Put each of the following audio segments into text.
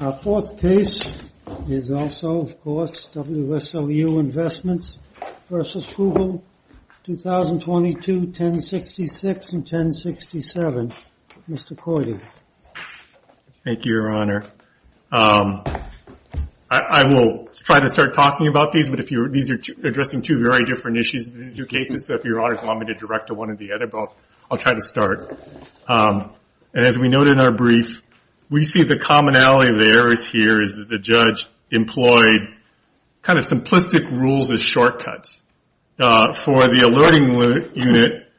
Our fourth case is also, of course, WSOU Investments v. Google, 2022, 1066 and 1067. Mr. Coyde. Thank you, Your Honor. I will try to start talking about these, but these are addressing two very different issues, two cases. So if Your Honors want me to direct to one or the other, I'll try to start. And as we noted in our brief, we see the commonality of the errors here is that the judge employed kind of simplistic rules as shortcuts. For the alerting unit,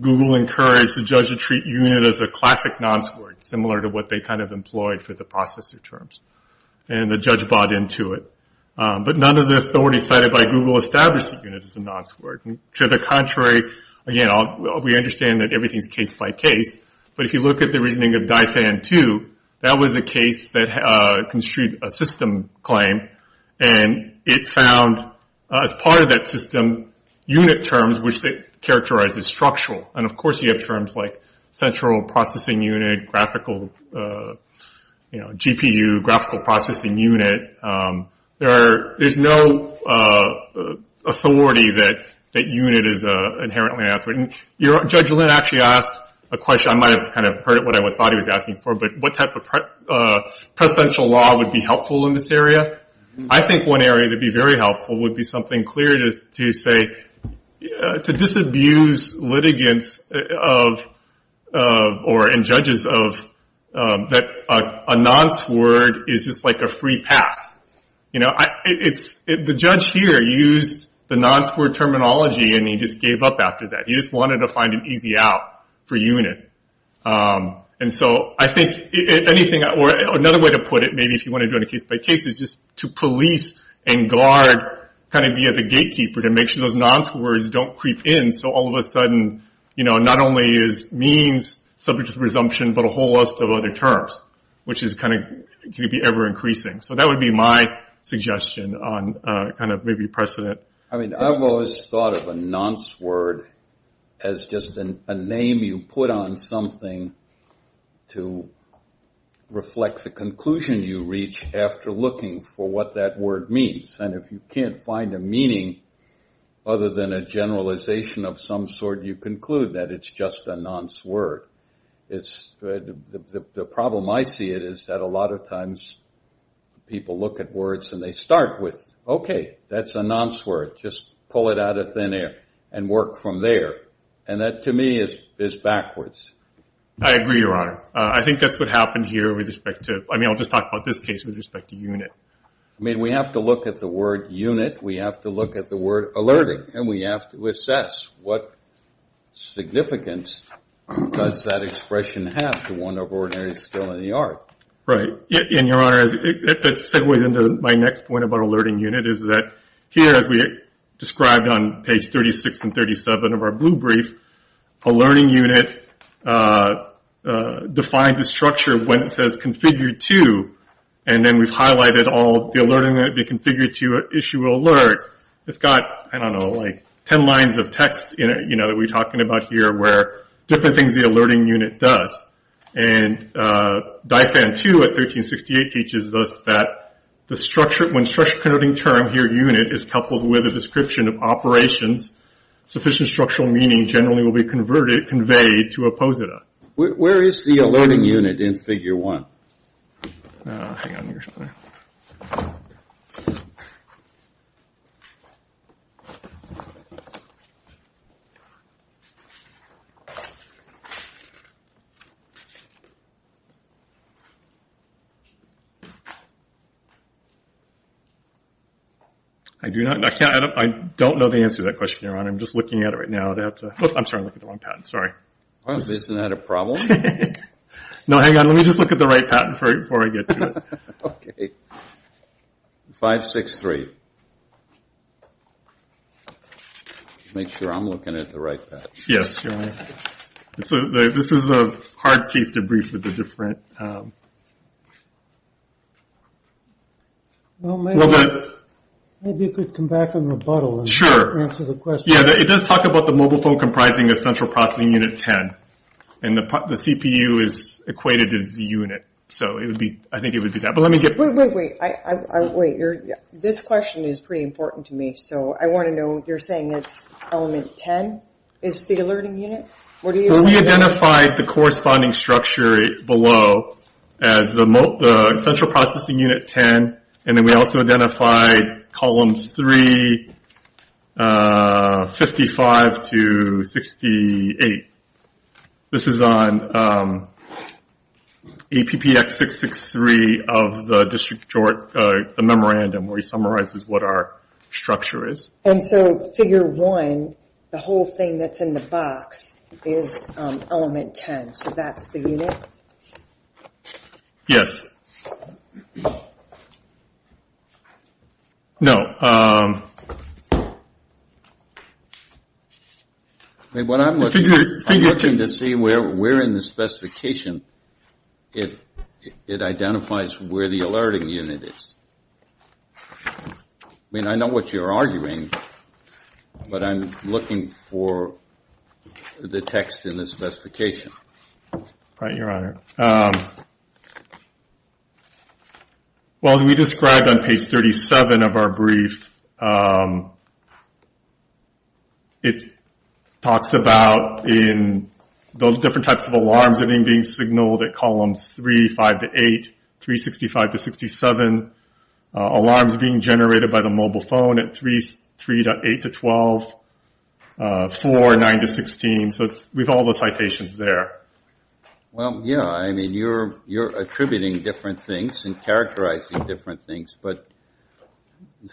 Google encouraged the judge to treat unit as a classic non-squared, similar to what they kind of employed for the processor terms. And the judge bought into it. But none of the authorities cited by Google established the unit as a non-squared. To the contrary, again, we understand that everything is case by case. But if you look at the reasoning of DIFAN 2, that was a case that construed a system claim. And it found, as part of that system, unit terms which it characterized as structural. And, of course, you have terms like central processing unit, graphical, you know, GPU, graphical processing unit. There's no authority that unit is inherently unauthorized. Judge Lin actually asked a question. I might have kind of heard what I thought he was asking for, but what type of presidential law would be helpful in this area? I think one area that would be very helpful would be something clear to say, to disabuse litigants and judges of that a non-squared is just like a free pass. You know, the judge here used the non-squared terminology and he just gave up after that. He just wanted to find an easy out for unit. And so I think another way to put it, maybe if you want to do it case by case, is just to police and guard, kind of be as a gatekeeper to make sure those non-squareds don't creep in. So all of a sudden, you know, not only is means subject to presumption, but a whole host of other terms, which is kind of going to be ever increasing. So that would be my suggestion on kind of maybe precedent. I mean, I've always thought of a non-squared as just a name you put on something to reflect the conclusion you reach after looking for what that word means. And if you can't find a meaning other than a generalization of some sort, you conclude that it's just a non-squared. It's the problem I see it is that a lot of times people look at words and they start with, okay, that's a non-squared. Just pull it out of thin air and work from there. And that to me is backwards. I agree, Your Honor. I think that's what happened here with respect to, I mean, I'll just talk about this case with respect to unit. I mean, we have to look at the word unit. We have to look at the word alerting. And we have to assess what significance does that expression have to one of ordinary skill in the art? Right. And, Your Honor, if it segues into my next point about alerting unit is that here, as we described on page 36 and 37 of our blue brief, alerting unit defines a structure when it says configure to. And then we've highlighted all the alerting that we configure to issue alert. It's got, I don't know, like 10 lines of text that we're talking about here where different things the alerting unit does. And DIFAN 2 at 1368 teaches us that the structure, when structure-connoting term here, unit, is coupled with a description of operations, sufficient structural meaning generally will be converted, conveyed to oppose it. Where is the alerting unit in Figure 1? I do not, I can't, I don't know the answer to that question. Your Honor, I'm just looking at it right now. I'd have to, I'm sorry, I'm looking at the wrong patent. Sorry. Well, isn't that a problem? No, hang on. Let me just look at the right patent before I get to it. OK. 563. Make sure I'm looking at the right patent. Yes, Your Honor. This is a hard case to brief with the different. Well, maybe you could come back and rebuttal. Sure. Yeah, it does talk about the mobile phone comprising a central processing unit 10. And the CPU is equated as the unit. So, it would be, I think it would be that. But let me get. Wait, wait, wait. This question is pretty important to me. So, I want to know, you're saying it's element 10 is the alerting unit? What do you say? We identified the corresponding structure below as the central processing unit 10. And then we also identified columns 3, 55 to 68. This is on APPX663 of the district short, the memorandum where he summarizes what our structure is. And so, figure 1, the whole thing that's in the box is element 10. So, that's the unit? Yes. No. When I'm looking to see where we're in the specification, it identifies where the alerting unit is. I mean, I know what you're arguing, but I'm looking for the text in the specification. Right, your honor. Well, as we described on page 37 of our brief, it talks about in those different types of alarms that are being signaled at columns 3, 5 to 8, 365 to 67. Alarms being generated by the mobile phone at 3 to 8 to 12, 4, 9 to 16. So, we have all the citations there. Well, yeah, I mean, you're attributing different things and characterizing different things. But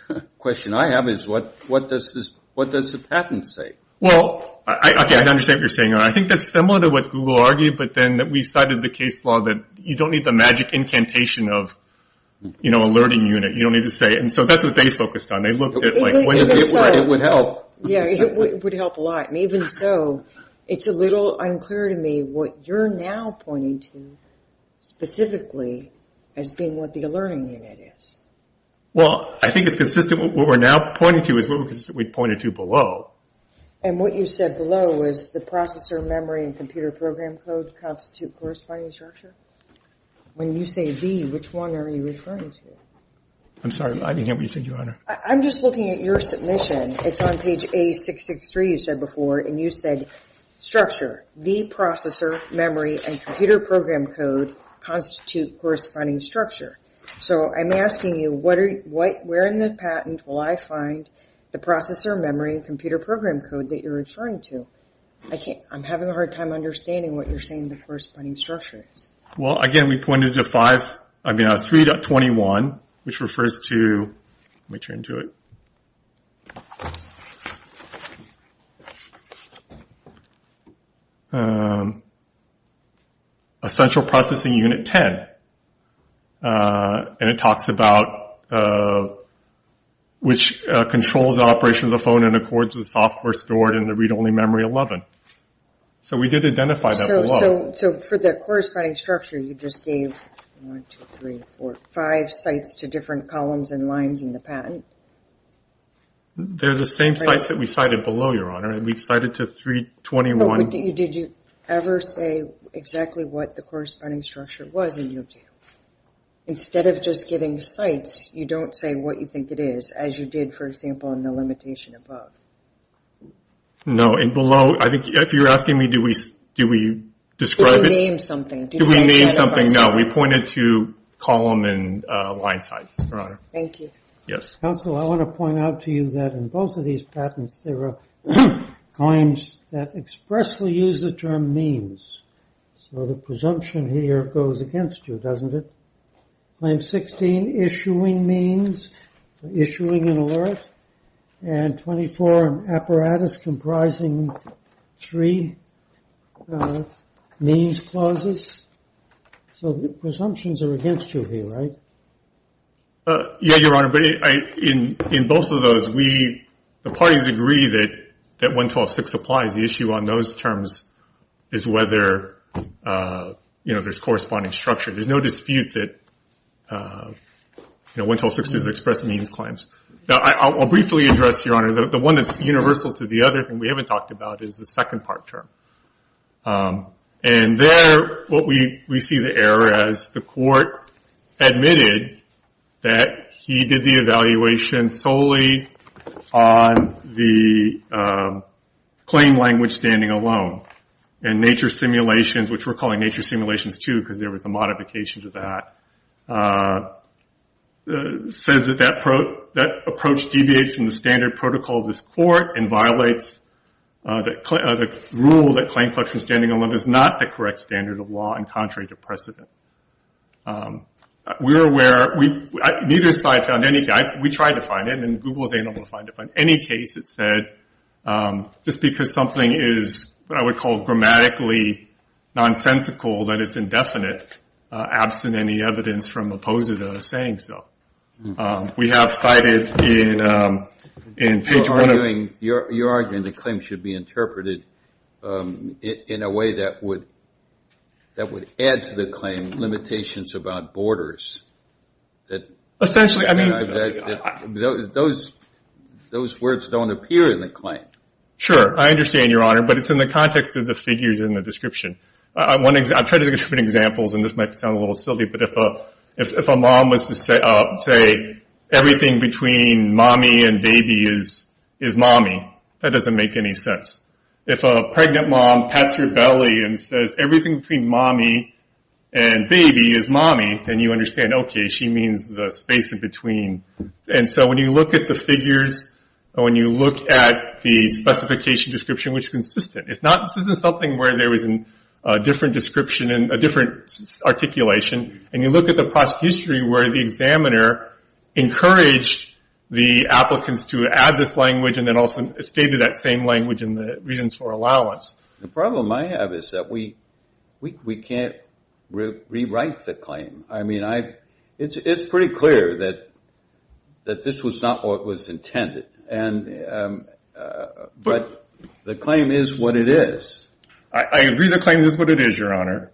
the question I have is, what does the patent say? Well, I understand what you're saying. I think that's similar to what Google argued, but then we cited the case law that you don't need the magic incantation of, you know, alerting unit. You don't need to say it. And so, that's what they focused on. They looked at, like, when it would help. Yeah, it would help a lot. And even so, it's a little unclear to me what you're now pointing to, specifically, as being what the alerting unit is. Well, I think it's consistent with what we're now pointing to, is what we pointed to below. And what you said below was the processor memory and computer program code constitute corresponding structure? When you say the, which one are you referring to? I'm sorry, I didn't hear what you said, your honor. I'm just looking at your submission. It's on page A663, you said before. And you said, structure, the processor memory and computer program code constitute corresponding structure. So, I'm asking you, where in the patent will I find the processor memory and computer program code that you're referring to? I can't, I'm having a hard time understanding what you're saying, the corresponding structure is. Well, again, we pointed to 5, I mean, 3.21, which refers to, let me turn to it. A central processing unit 10. And it talks about which controls the operation of the phone and accords with software stored in the read-only memory 11. So, we did identify that below. So, for the corresponding structure, you just gave, one, two, three, four, five sites to different columns and lines in the patent. They're the same sites that we cited below, your honor. And we cited to 3.21. But did you ever say exactly what the corresponding structure was in U of T? Instead of just giving sites, you don't say what you think it is, as you did, for example, in the limitation above. No, and below, I think, if you're asking me, do we describe it? Did you name something? Did you name something? No, we pointed to column and line size, your honor. Thank you. Yes. Counsel, I want to point out to you that in both of these patents, there were claims that expressly used the term means. So, the presumption here goes against you, doesn't it? Claim 16, issuing means, issuing an alert. And 24, an apparatus comprising three means clauses. So, the presumptions are against you here, right? Yeah, your honor. But in both of those, the parties agree that 112.6 applies. The issue on those terms is whether there's corresponding structure. There's no dispute that 112.6 does express means claims. Now, I'll briefly address, your honor, the one that's universal to the other thing we haven't talked about is the second part term. And there, what we see the error as the court admitted that he did the evaluation solely on the claim language standing alone. And nature simulations, which we're calling nature simulations too because there was a modification to that, says that that approach deviates from the standard protocol of this court and violates the rule that claim collection standing alone is not the correct standard of law and contrary to precedent. We're aware, neither side found any, we tried to find it and Google was able to find it, but in any case it said, just because something is, what I would call, grammatically nonsensical, that it's indefinite. Absent any evidence from opposed to saying so. We have cited in page one of- You're arguing the claim should be interpreted in a way that would add to the claim limitations about borders that- Essentially, I mean- Those words don't appear in the claim. Sure, I understand, your honor, but it's in the context of the figures in the description. I've tried to look at different examples, and this might sound a little silly, but if a mom was to say, everything between mommy and baby is mommy, that doesn't make any sense. If a pregnant mom pats her belly and says, everything between mommy and baby is mommy, then you understand, okay, she means the space in between. And so when you look at the figures, or when you look at the specification description, which is consistent. It's not, this isn't something where there was a different description and a different articulation. And you look at the past history where the examiner encouraged the applicants to add this language and then also stated that same language in the reasons for allowance. The problem I have is that we can't rewrite the claim. I mean, it's pretty clear that this was not what was intended. And, but the claim is what it is. I agree the claim is what it is, your honor.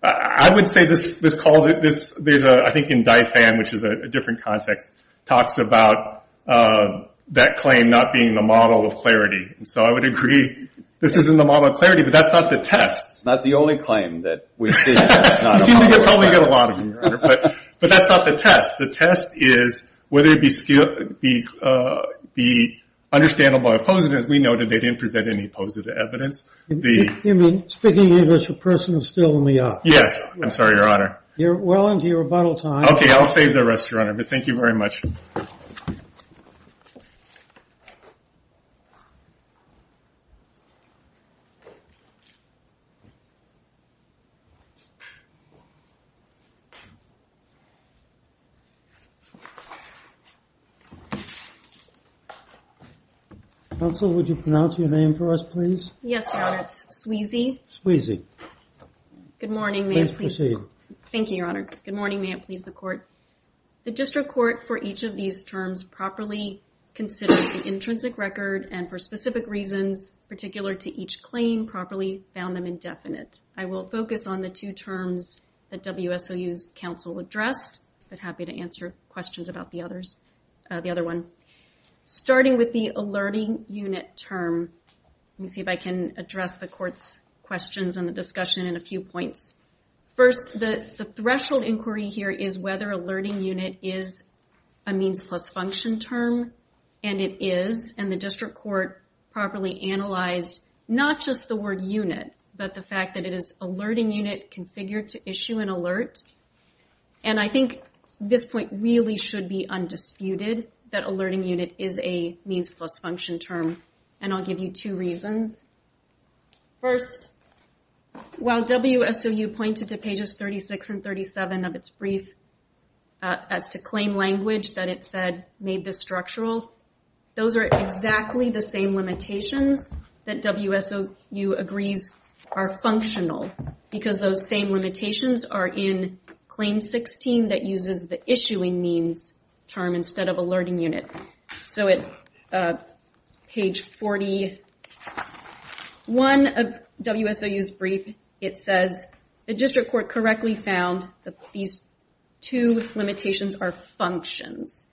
I would say this calls it, there's a, I think in Dye Fan, which is a different context, talks about that claim not being the model of clarity. So I would agree, this isn't the model of clarity, but that's not the test. Not the only claim that we see that's not a model of clarity. We seem to probably get a lot of them, your honor, but that's not the test. The test is whether it be understandable or not, but it's the- You mean, speaking English, a person is still in the office? Yes, I'm sorry, your honor. You're well into your rebuttal time. Okay, I'll save the rest, your honor, but thank you very much. Counsel, would you pronounce your name for us, please? Yes, your honor, it's Sweezy. Sweezy. Good morning, may I please- Please proceed. Thank you, your honor. Good morning, may I please the court. The district court for each of these terms properly considered the intrinsic record, and for specific reasons, particular to each claim, properly found them indefinite. I will focus on the two terms that WSOU's counsel addressed, but happy to answer questions about the others, the other one. Starting with the alerting unit term, let me see if I can address the court's questions and the discussion in a few points. First, the threshold inquiry here is whether alerting unit is a means plus function term, and it is, and the district court properly analyzed not just the word unit, but the fact that it is alerting unit configured to issue an alert, and I think this point really should be undisputed, that alerting unit is a means plus function term. And I'll give you two reasons. First, while WSOU pointed to pages 36 and 37 of its brief as to claim language that it said made this structural, those are exactly the same limitations that WSOU agrees are term instead of alerting unit. So at page 41 of WSOU's brief, it says, the district court correctly found that these two limitations are functions,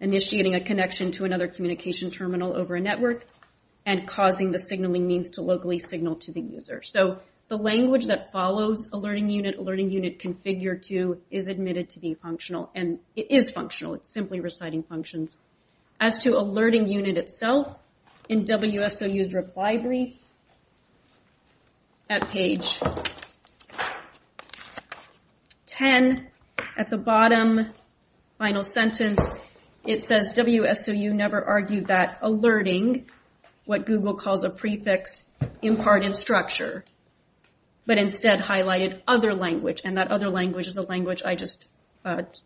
initiating a connection to another communication terminal over a network, and causing the signaling means to locally signal to the user. So the language that follows alerting unit, alerting unit configured to, is admitted to be functional, and it is functional, it's simply reciting functions. As to alerting unit itself, in WSOU's reply brief, at page 10, at the bottom, final sentence, it says WSOU never argued that alerting, what Google calls a prefix, imparted structure, but instead highlighted other language, and that other language is a language I just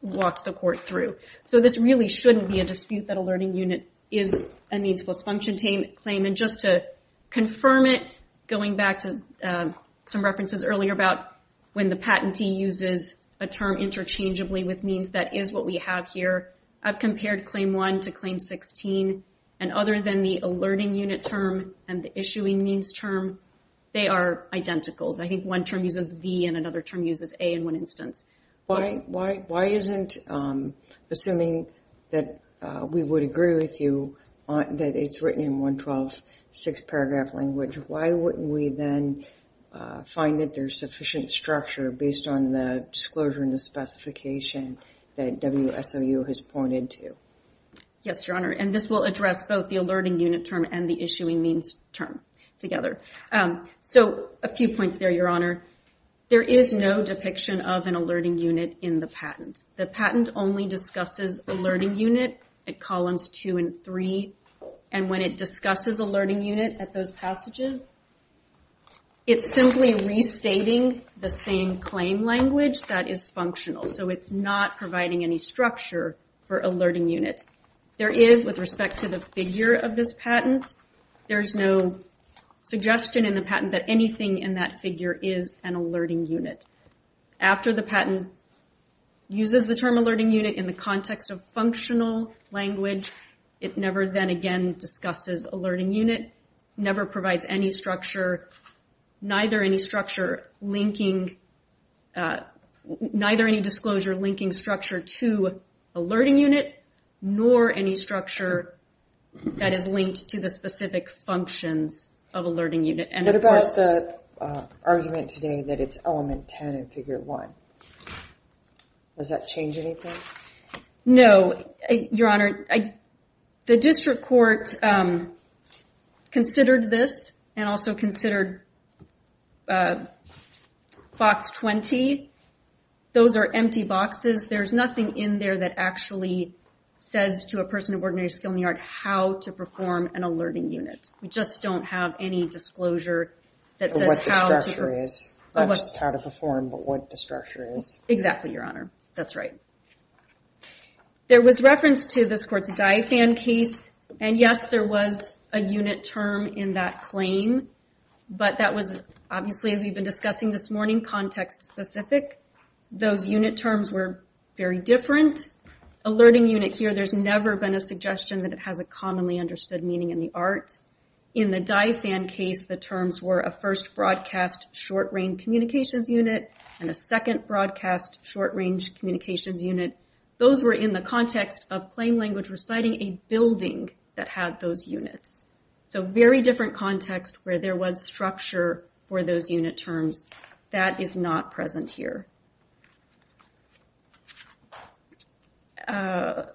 walked the court through. So this really shouldn't be a dispute that alerting unit is a means plus function claim, and just to confirm it, going back to some references earlier about when the patentee uses a term interchangeably with means, that is what we have here. I've compared claim one to claim 16, and other than the alerting unit term and the issuing means term, they are identical. I think one term uses V and another term uses A in one instance. Why isn't, assuming that we would agree with you, that it's written in 112 six paragraph language, why wouldn't we then find that there's sufficient structure based on the disclosure and the specification that WSOU has pointed to? Yes, Your Honor, and this will address both the alerting unit term and the issuing means term together. So a few points there, Your Honor. There is no depiction of an alerting unit in the patent. The patent only discusses alerting unit at columns two and three, and when it discusses alerting unit at those passages, it's simply restating the same claim language that is functional, so it's not providing any structure for alerting unit. There is, with respect to the figure of this patent, there's no suggestion in the patent that anything in that figure is an alerting unit. After the patent uses the term alerting unit in the context of functional language, it never then again discusses alerting unit, never provides neither any disclosure linking structure to alerting unit, nor any structure that is linked to the specific functions of alerting unit. What about the argument today that it's element 10 in figure one? Does that change anything? No, Your Honor. The district court considered this and also considered box 20. Those are empty boxes. There's nothing in there that actually says to a person of ordinary skill in the art how to perform an alerting unit. We just don't have any disclosure that says how to- What the structure is, not just how to perform, but what the structure is. Exactly, Your Honor. That's right. There was reference to this court's DIAFAN case, and yes, there was a unit term in that specific. Those unit terms were very different. Alerting unit here, there's never been a suggestion that it has a commonly understood meaning in the art. In the DIAFAN case, the terms were a first broadcast short-range communications unit, and a second broadcast short-range communications unit. Those were in the context of claim language reciting a building that had those units. Very different context where there was structure for those unit terms. That is not present here. I'm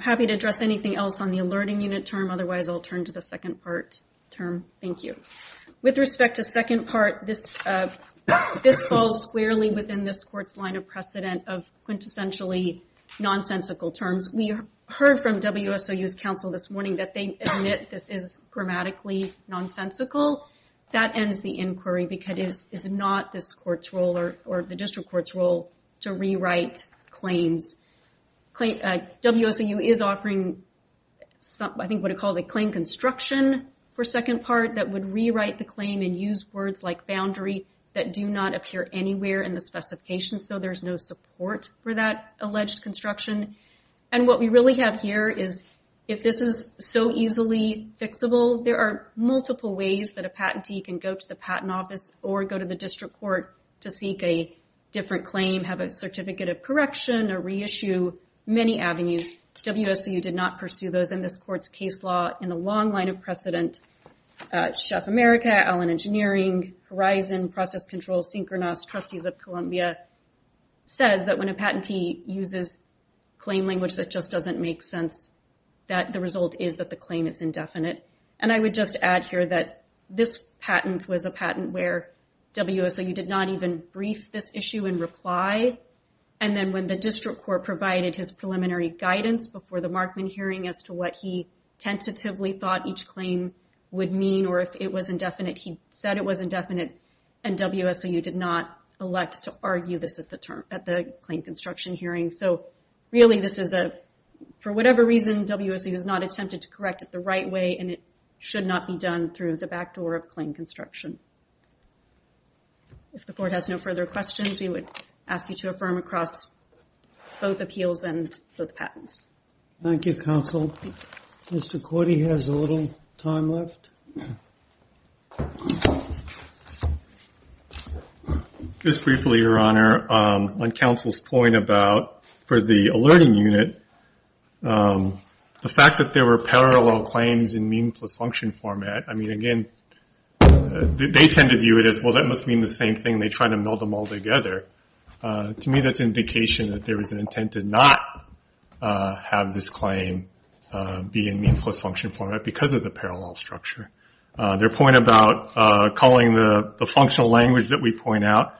happy to address anything else on the alerting unit term. Otherwise, I'll turn to the second part term. Thank you. With respect to second part, this falls squarely within this court's line of precedent of quintessentially nonsensical terms. We heard from WSOU's counsel this morning that they admit this is grammatically nonsensical. That ends the inquiry because it is not this court's role or the district court's role to rewrite claims. WSOU is offering, I think what it calls a claim construction for second part that would rewrite the claim and use words like boundary that do not appear anywhere in the specification, so there's no support for that alleged construction. What we really have here is if this is so easily fixable, there are multiple ways that a patentee can go to the patent office or go to the district court to seek a different claim, have a certificate of correction, or reissue many avenues. WSOU did not pursue those in this court's case law in the long line of precedent. Chef America, Allen Engineering, Horizon, Process Control, Synchronos, Trustees of Columbia says that when a patentee uses claim language that just doesn't make sense, that the result is that the claim is indefinite. I would just add here that this patent was a patent where WSOU did not even brief this issue in reply. Then when the district court provided his preliminary guidance before the Markman hearing as to what he tentatively thought each claim would mean or if it was indefinite, he said it was indefinite, and WSOU did not elect to argue this at the claim construction hearing. So really, for whatever reason, WSOU has not attempted to correct it the right way, and it should not be done through the back door of claim construction. If the court has no further questions, we would ask you to affirm across both appeals and both patents. Thank you, counsel. Mr. Cordy has a little time left. Just briefly, Your Honor, on counsel's point about, for the alerting unit, the fact that there were parallel claims in mean plus function format, I mean, again, they tend to view it as, well, that must mean the same thing, and they try to meld them all together. To me, that's an indication that there was an intent to not have this claim be in means plus function format because of the parallel structure. Their point about calling the functional language that we point out,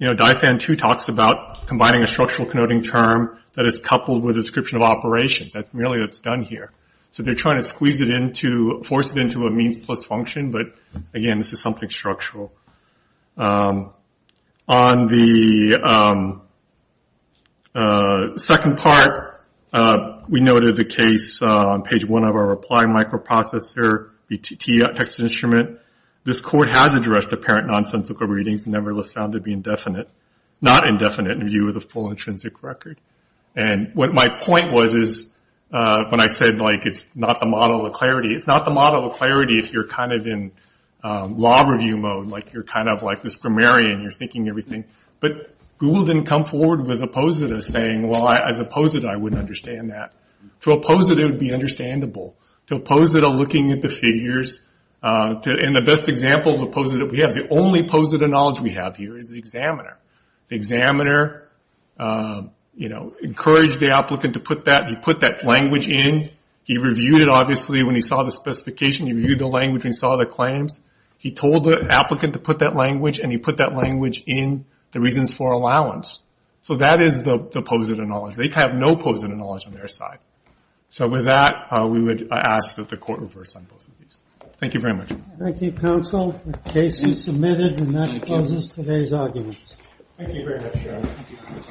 you know, DIFAN 2 talks about combining a structural connoting term that is coupled with a description of operations. That's merely what's done here. So they're trying to squeeze it into, force it into a means plus function, but again, this is something structural. On the second part, we noted the case on page 1 of our reply microprocessor text instrument. This court has addressed apparent nonsensical readings, nevertheless found to be indefinite, not indefinite in view of the full intrinsic record. And what my point was is, when I said, like, it's not the model of clarity, it's not the law review mode, like, you're kind of like this grammarian, you're thinking everything. But Google didn't come forward with a POSITA saying, well, as a POSITA, I wouldn't understand that. To a POSITA, it would be understandable. To a POSITA looking at the figures, and the best example of a POSITA we have, the only POSITA knowledge we have here is the examiner. The examiner, you know, encouraged the applicant to put that, he put that language in, he reviewed it, obviously, when he saw the specification, he reviewed the language, he saw the claims, he told the applicant to put that language, and he put that language in the reasons for allowance. So that is the POSITA knowledge. They have no POSITA knowledge on their side. So with that, we would ask that the court reverse on both of these. Thank you very much. Thank you, counsel. The case is submitted, and that closes today's argument. Thank you very much.